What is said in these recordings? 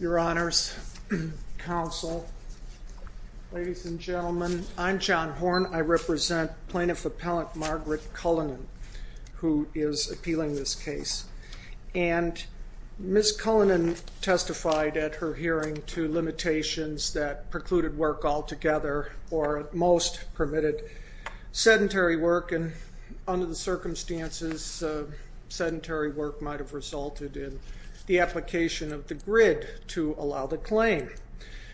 Your Honors, Counsel, Ladies and Gentlemen, I'm John Horn. I represent Plaintiff Appellant Margaret Cullinan, who is appealing this case. And Ms. Cullinan testified at her hearing to limitations that precluded work altogether or at most permitted sedentary work, and under the circumstances, sedentary work might have resulted in the application of the grid to allow the claim.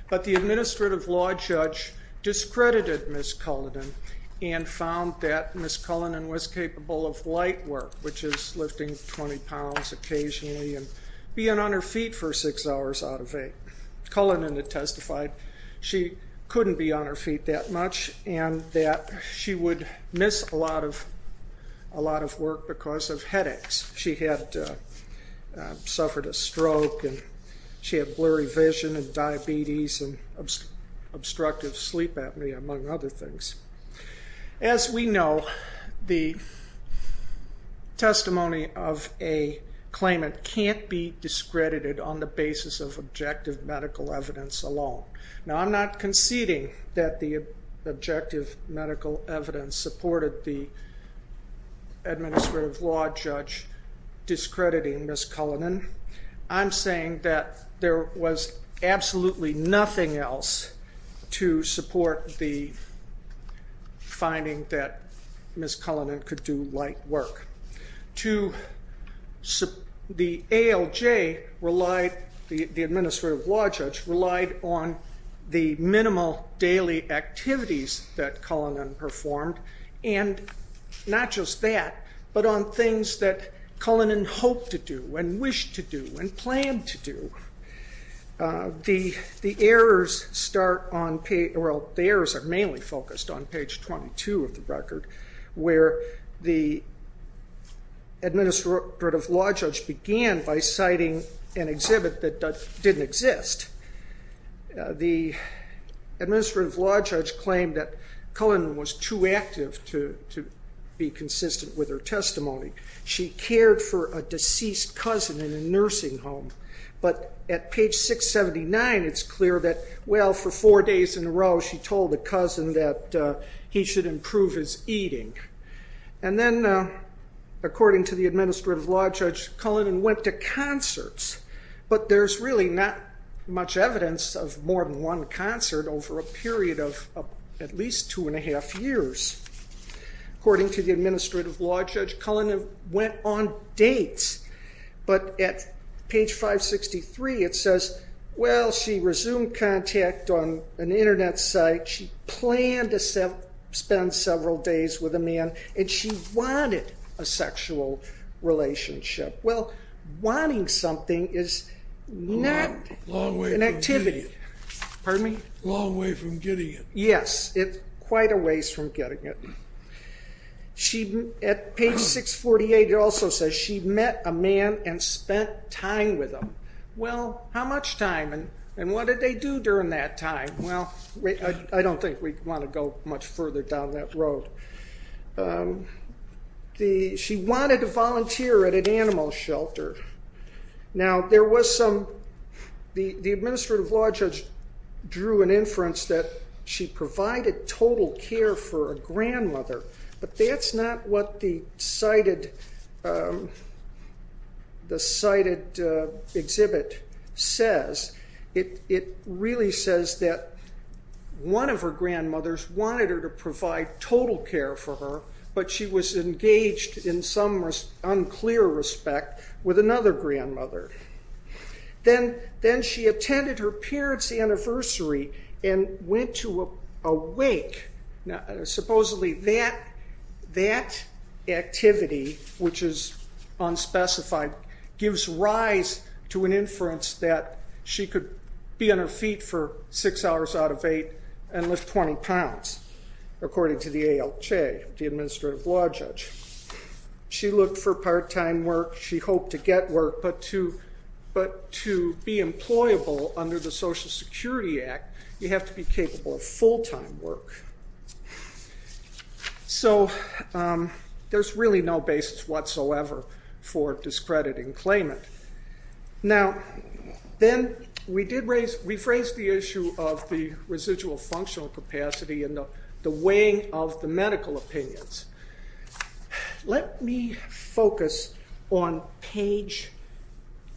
But the administrative law judge discredited Ms. Cullinan and found that Ms. Cullinan was capable of light work, which is lifting 20 pounds occasionally and being on her feet for six hours out of eight. Cullinan had testified she couldn't be on her feet that much and that she would miss a lot of work because of headaches. She had suffered a stroke and she had blurry vision and diabetes and obstructive sleep apnea, among other things. As we know, the testimony of a claimant can't be discredited on the basis of objective medical evidence alone. Now, I'm not conceding that the objective medical evidence supported the administrative law judge discrediting Ms. Cullinan. I'm saying that there was absolutely nothing else to support the finding that Ms. Cullinan could do light work. The ALJ relied, the administrative law judge relied on the minimal daily activities that things that Cullinan hoped to do and wished to do and planned to do. The errors are mainly focused on page 22 of the record, where the administrative law judge began by citing an exhibit that didn't exist. The administrative law judge claimed that Cullinan was too active to be consistent with her testimony. She cared for a deceased cousin in a nursing home, but at page 679, it's clear that, well, for four days in a row, she told the cousin that he should improve his eating. And then, according to the administrative law judge, Cullinan went to concerts, but there's really not much evidence of more than one concert over a period of at least two and a half years. According to the administrative law judge, Cullinan went on dates, but at page 563, it says, well, she resumed contact on an internet site, she planned to spend several days with a man, and she wanted a sexual relationship. Well, wanting something is not an activity. Long way from getting it. Pardon me? Long way from getting it. Yes, quite a ways from getting it. At page 648, it also says, she met a man and spent time with him. Well, how much time, and what did they do during that time? Well, I don't think we want to go much further down that road. She wanted to volunteer at an animal shelter. Now, the administrative law judge drew an inference that she provided total care for a grandmother, but that's not what the cited exhibit says. It really says that one of her grandmothers wanted her to provide total care for her, but she was engaged in some unclear respect with another grandmother. Then she attended her parents' anniversary and went to a wake. Supposedly that activity, which is unspecified, gives rise to an inference that she could be on her feet for six hours out of eight and lift 20 pounds, according to the ALJ, the administrative law judge. She looked for part-time work. She hoped to get work, but to be employable under the Social Security Act, you have to be capable of full-time work. So there's really no basis whatsoever for discrediting claimant. Now, then we phrased the issue of the residual functional capacity and the weighing of the opinions. Let me focus on page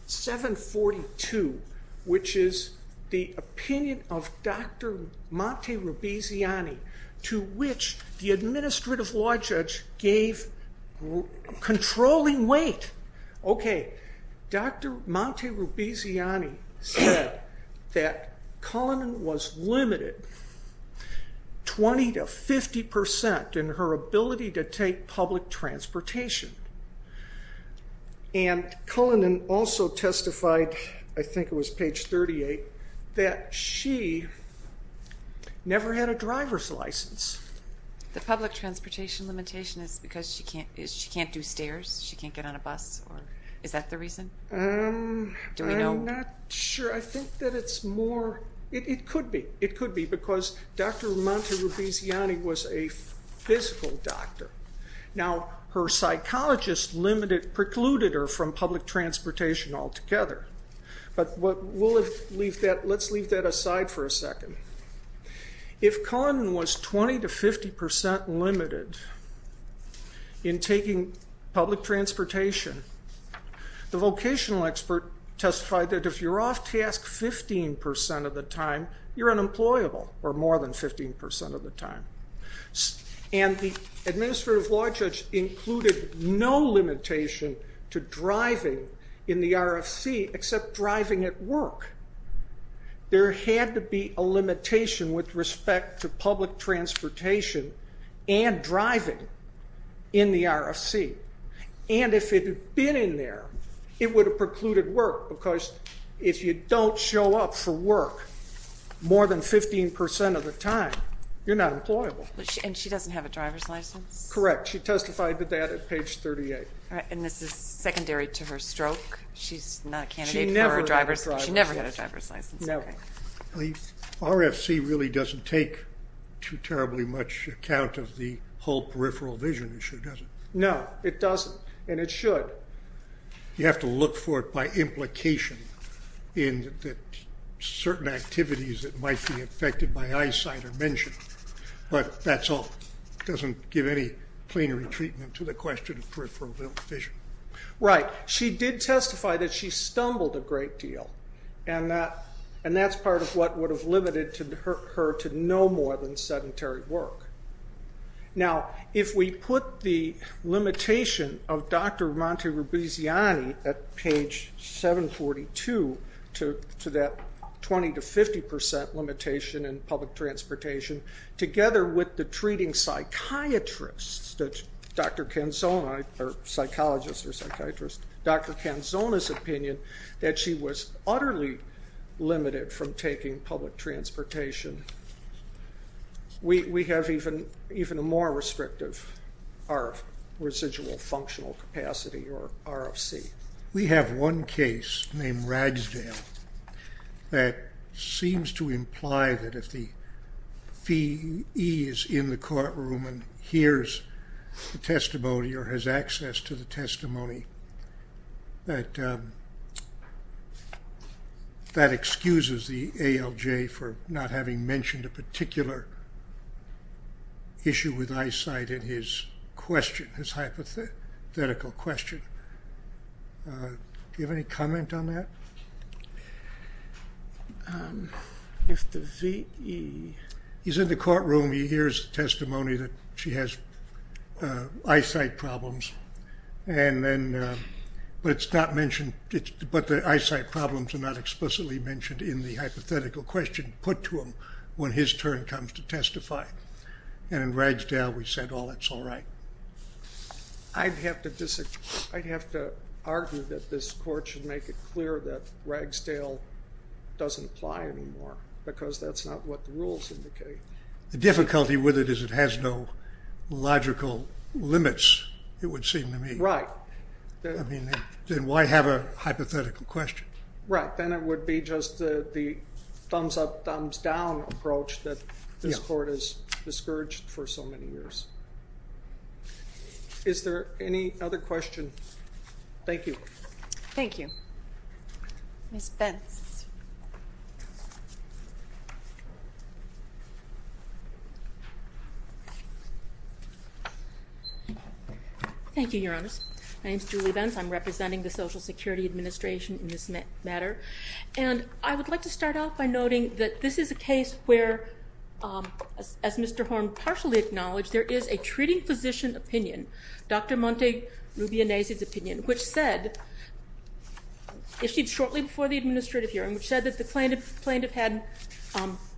742, which is the opinion of Dr. Monti-Rubiziani, to which the administrative law judge gave controlling weight. Okay, Dr. Monti-Rubiziani said that Cullinan was limited 20 to 50 percent in her ability to take public transportation, and Cullinan also testified, I think it was page 38, that she never had a driver's license. The public transportation limitation is because she can't do stairs, she can't get on a bus? Is that the reason? Do we know? I'm not sure. I think that it's more, it could be, it could be because Dr. Monti-Rubiziani was a physical doctor. Now, her psychologist limited, precluded her from public transportation altogether. But we'll leave that, let's leave that aside for a second. If Cullinan was 20 to 50 percent limited in taking public transportation, the vocational expert testified that if you're off task 15 percent of the time, you're unemployable, or more than 15 percent of the time. And the administrative law judge included no limitation to driving in the RFC except driving at work. There had to be a limitation with respect to public transportation and driving in the RFC. And if it had been in there, it would have precluded work, because if you don't show up for work more than 15 percent of the time, you're not employable. And she doesn't have a driver's license? Correct. She testified to that at page 38. And this is secondary to her stroke? She's not a candidate for a driver's license? She never had a driver's license. Never. The RFC really doesn't take too terribly much account of the whole peripheral vision issue, does it? No, it doesn't. And it should. You have to look for it by implication, in that certain activities that might be affected by eyesight are mentioned. But that's all. It doesn't give any plenary treatment to the question of peripheral vision. Right. She did testify that she stumbled a great deal. And that's part of what would have limited her to no more than sedentary work. Now, if we put the limitation of Dr. Monti-Rubiziani at page 742 to that 20 to 50 percent limitation in public transportation, together with the treating psychiatrists that Dr. Canzoni, or psychologists or psychiatrists, Dr. Canzoni's opinion that she was utterly limited from taking public transportation, we have even a more restrictive residual functional capacity or RFC. We have one case named Ragsdale that seems to imply that if the fee is in the courtroom and hears the testimony or has access to the testimony, that that excuses the ALJ for not having mentioned a particular issue with eyesight in his question, his hypothetical question. Do you have any comment on that? He's in the courtroom, he hears the testimony that she has eyesight problems, but the eyesight problems are not explicitly mentioned in the hypothetical question put to him when his turn comes to testify. And in Ragsdale we said, oh, that's all right. I'd have to argue that this court should make it clear that Ragsdale doesn't apply anymore, because that's not what the rules indicate. The difficulty with it is it has no logical limits, it would seem to me. Right. I mean, then why have a hypothetical question? Right. Then it would be just the thumbs up, thumbs down approach that this court has discouraged for so many years. Is there any other question? Thank you. Thank you. Ms. Bence. Thank you, Your Honors. My name is Julie Bence, I'm representing the Social Security Administration in this matter. And I would like to start off by noting that this is a case where, as Mr. Horne partially acknowledged, there is a treating physician opinion, Dr. Monte Rubianese's opinion, which said, issued shortly before the administrative hearing, which said that the plaintiff had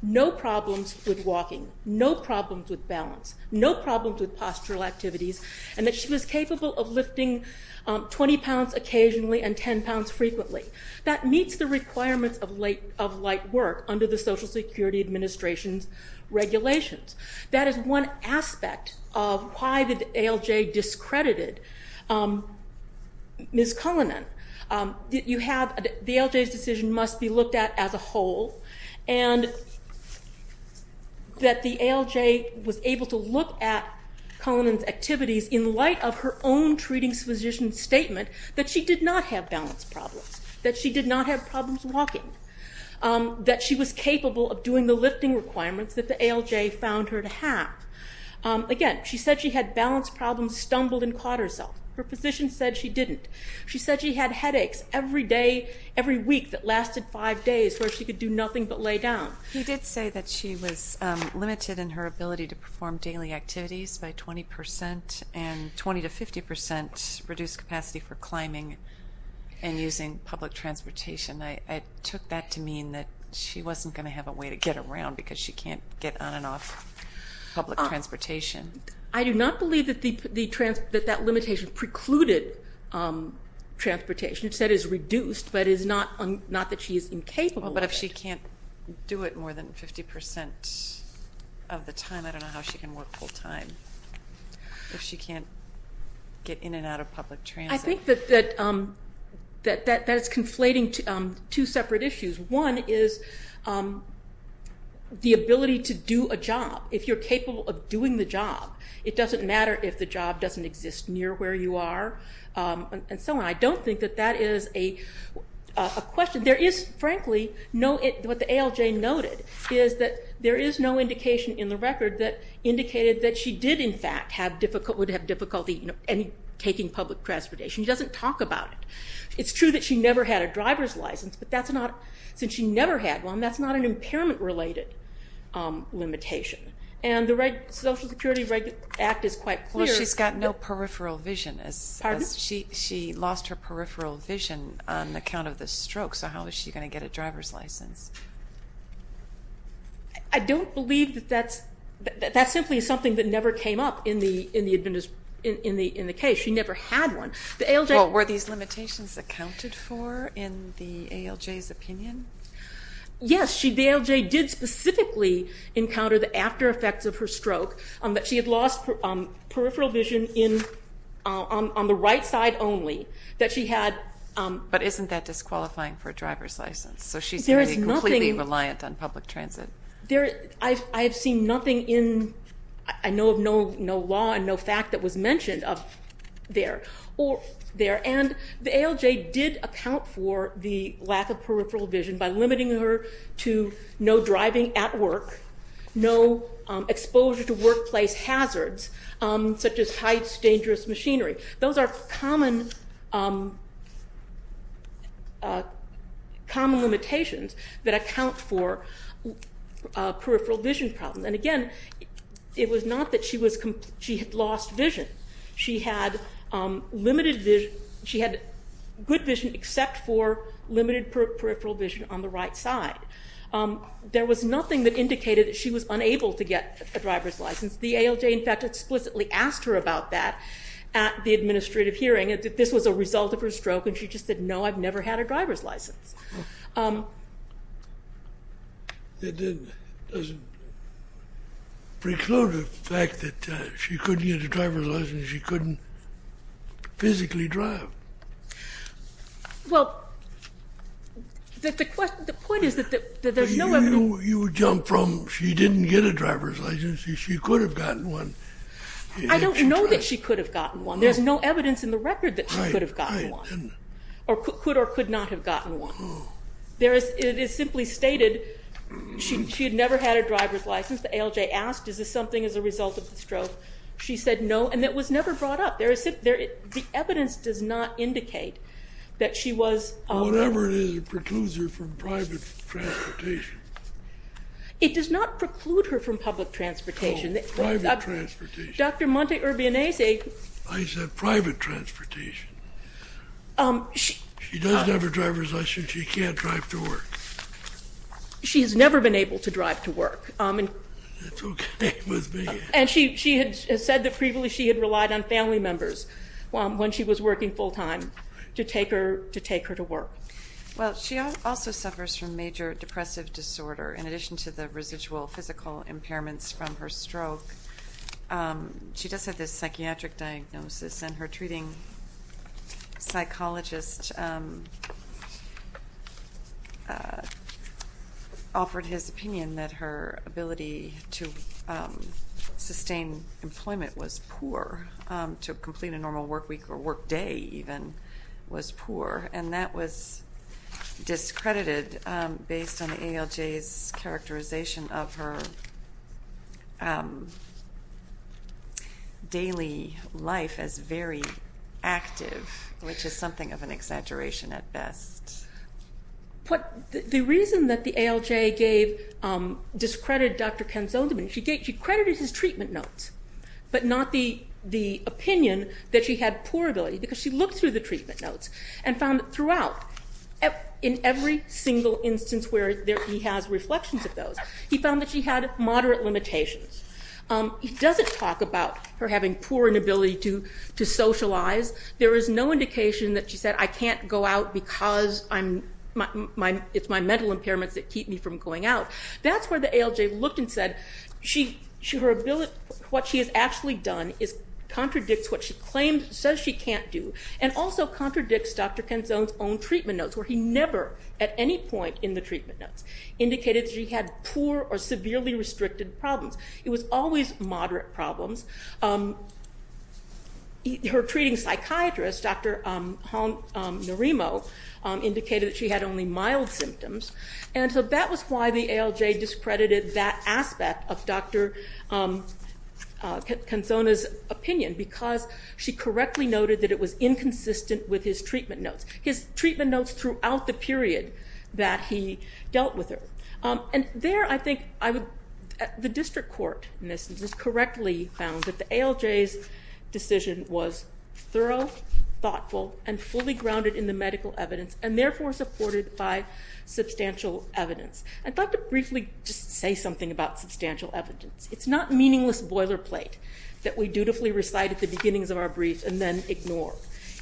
no problems with walking, no problems with balance, no problems with postural activities, and that she was capable of lifting 20 pounds occasionally and 10 pounds frequently. That meets the requirements of light work under the Social Security Administration's regulations. That is one aspect of why the ALJ discredited Ms. Cullinan. You have, the ALJ's decision must be looked at as a whole, and that the ALJ was able to look at Cullinan's activities in light of her own treating physician's statement that she did not have balance problems, that she did not have problems walking, that she was capable of doing the lifting requirements that the ALJ found her to have. Again, she said she had balance problems, stumbled and caught herself. Her physician said she didn't. She said she had headaches every day, every week that lasted five days where she could do nothing but lay down. He did say that she was limited in her ability to perform daily activities by 20 percent and 20 to 50 percent reduced capacity for climbing and using public transportation. I took that to mean that she wasn't going to have a way to get around because she can't get on and off public transportation. I do not believe that that limitation precluded transportation. It said it is reduced, but it is not that she is incapable of it. Well, but if she can't do it more than 50 percent of the time, I don't know how she can work full time. If she can't get in and out of public transit. I think that that is conflating two separate issues. One is the ability to do a job. If you're capable of doing the job, it doesn't matter if the job doesn't exist near where you are and so on. I don't think that that is a question. There is frankly no, what the ALJ noted is that there is no indication in the record that indicated that she did in fact would have difficulty taking public transportation. She doesn't talk about it. It's true that she never had a driver's license, but that's not, since she never had one, that's not an impairment related limitation. And the Social Security Act is quite clear. Well, she's got no peripheral vision. She lost her peripheral vision on account of the stroke, so how is she going to get a driver's license? I don't believe that that's, that's simply something that never came up in the case. She never had one. The ALJ. Well, were these limitations accounted for in the ALJ's opinion? Yes. The ALJ did specifically encounter the after effects of her stroke, that she had lost peripheral vision on the right side only, that she had. But isn't that disqualifying for a driver's license? So she's going to be completely reliant on public transit. I have seen nothing in, I know of no law and no fact that was mentioned of there. And the ALJ did account for the lack of peripheral vision by limiting her to no driving at work, no exposure to workplace hazards, such as heights, dangerous machinery. Those are common, common limitations that account for peripheral vision problems. And again, it was not that she was, she had lost vision. She had limited vision, she had good vision except for limited peripheral vision on the right side. There was nothing that indicated that she was unable to get a driver's license. The ALJ, in fact, explicitly asked her about that at the administrative hearing, that this was a result of her stroke, and she just said, no, I've never had a driver's license. That doesn't preclude the fact that she couldn't get a driver's license, she couldn't physically drive. Well, the point is that there's no evidence. You would jump from, she didn't get a driver's license, she could have gotten one. I don't know that she could have gotten one. There's no evidence in the record that she could have gotten one, or could or could not have gotten one. It is simply stated, she had never had a driver's license. The ALJ asked, is this something as a result of the stroke? She said, no, and it was never brought up. The evidence does not indicate that she was... Whatever it is, it precludes her from private transportation. It does not preclude her from public transportation. Oh, private transportation. Dr. Monte Urbionese... I said private transportation. She doesn't have a driver's license, she can't drive to work. She has never been able to drive to work. That's okay with me. And she had said that previously she had relied on family members when she was working full-time to take her to work. Well, she also suffers from major depressive disorder. In addition to the residual physical impairments from her stroke, she does have this psychiatric diagnosis and her treating psychologist offered his opinion that her ability to sustain employment was poor, to complete a normal work week or work day even was poor, and that was discredited based on the ALJ's characterization of her daily life as very active, which is something of an exaggeration at best. The reason that the ALJ discredited Dr. Ken Zolderman, she credited his treatment notes, but not the opinion that she had poor ability, because she looked through the treatment notes and found that throughout, in every single instance where he has reflections of those, he found that she had moderate limitations. He doesn't talk about her having poor inability to socialize. There is no indication that she said, I can't go out because it's my mental impairments that keep me from going out. That's where the ALJ looked and said, what she has actually done contradicts what she claims, says she can't do, and also contradicts Dr. Ken Zolderman's own treatment notes where he never, at any point in the treatment notes, indicated that she had poor or severely restricted problems. It was always moderate problems. Her treating psychiatrist, Dr. Hal Noremo, indicated that she had only mild symptoms, and so that was why the ALJ discredited that aspect of Dr. Ken Zolderman's opinion, because she correctly noted that it was inconsistent with his treatment notes, his treatment notes throughout the period that he dealt with her. And there, I think, the district court in this instance correctly found that the ALJ's decision was thorough, thoughtful, and fully grounded in the medical evidence, and therefore supported by substantial evidence. I'd like to briefly just say something about substantial evidence. It's not meaningless boilerplate that we dutifully recite at the beginnings of our brief and then ignore.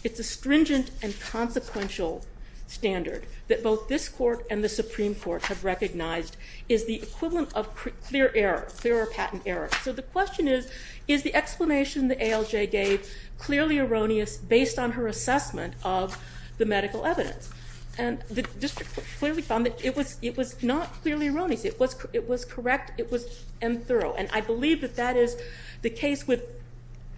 It's a stringent and consequential standard that both this court and the Supreme Court have recognized is the equivalent of clear error, clear or patent error. So the question is, is the explanation the ALJ gave clearly erroneous based on her assessment of the medical evidence? And the district clearly found that it was not clearly erroneous. It was correct and thorough, and I believe that that is the case with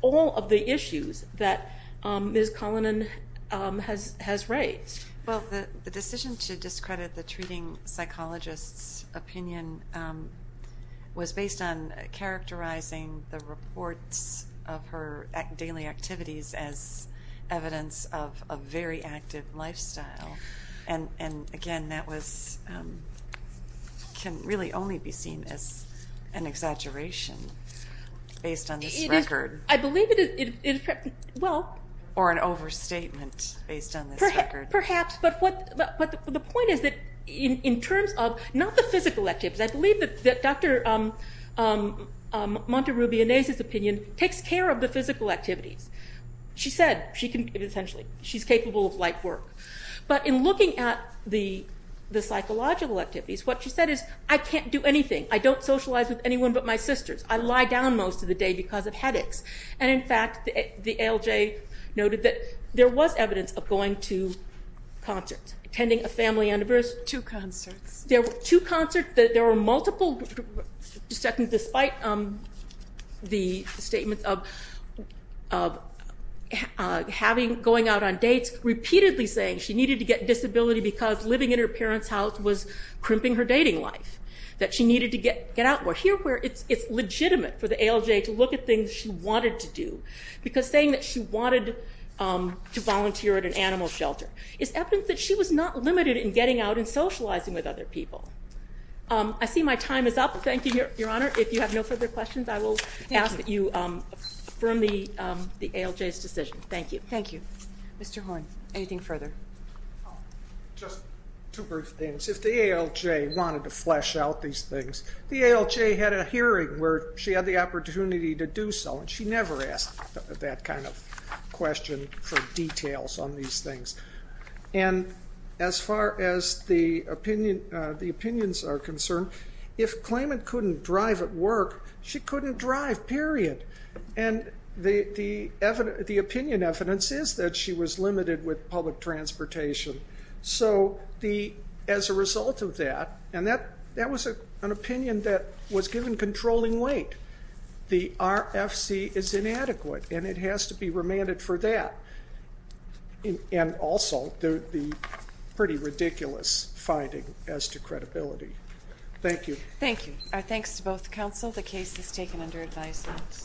all of the issues that Ms. Collinan has raised. Well, the decision to discredit the treating psychologist's opinion was based on characterizing the reports of her daily activities as evidence of a very active lifestyle. And again, that was, can really only be seen as an exaggeration based on this record. I believe it is, well. Or an overstatement based on this record. Perhaps, but the point is that in terms of, not the physical activities, I believe that Dr. Monteruby-Inez's opinion takes care of the physical activities. She said, she can, essentially, she's capable of light work. But in looking at the psychological activities, what she said is, I can't do anything. I don't socialize with anyone but my sisters. I lie down most of the day because of headaches. And in fact, the ALJ noted that there was evidence of going to concerts, attending a family anniversary. Two concerts. There were two concerts. There were multiple, despite the statement of having, going out on dates, repeatedly saying she needed to get disability because living in her parents' house was crimping her dating life. That she needed to get out more. Here where it's legitimate for the ALJ to look at things she wanted to do. Because saying that she wanted to volunteer at an animal shelter is evidence that she was not limited in getting out and socializing with other people. I see my time is up. Thank you, Your Honor. If you have no further questions, I will ask that you affirm the ALJ's decision. Thank you. Thank you. Mr. Horne. Anything further? Just two brief things. If the ALJ wanted to flesh out these things, the ALJ had a hearing where she had the opportunity to do so. And she never asked that kind of question for details on these things. And as far as the opinions are concerned, if Klayman couldn't drive at work, she couldn't drive, period. And the opinion evidence is that she was limited with public transportation. So as a result of that, and that was an opinion that was given controlling weight, the RFC is inadequate. And it has to be remanded for that. And also, the pretty ridiculous finding as to credibility. Thank you. Thank you. Our thanks to both counsel. The case is taken under advisement.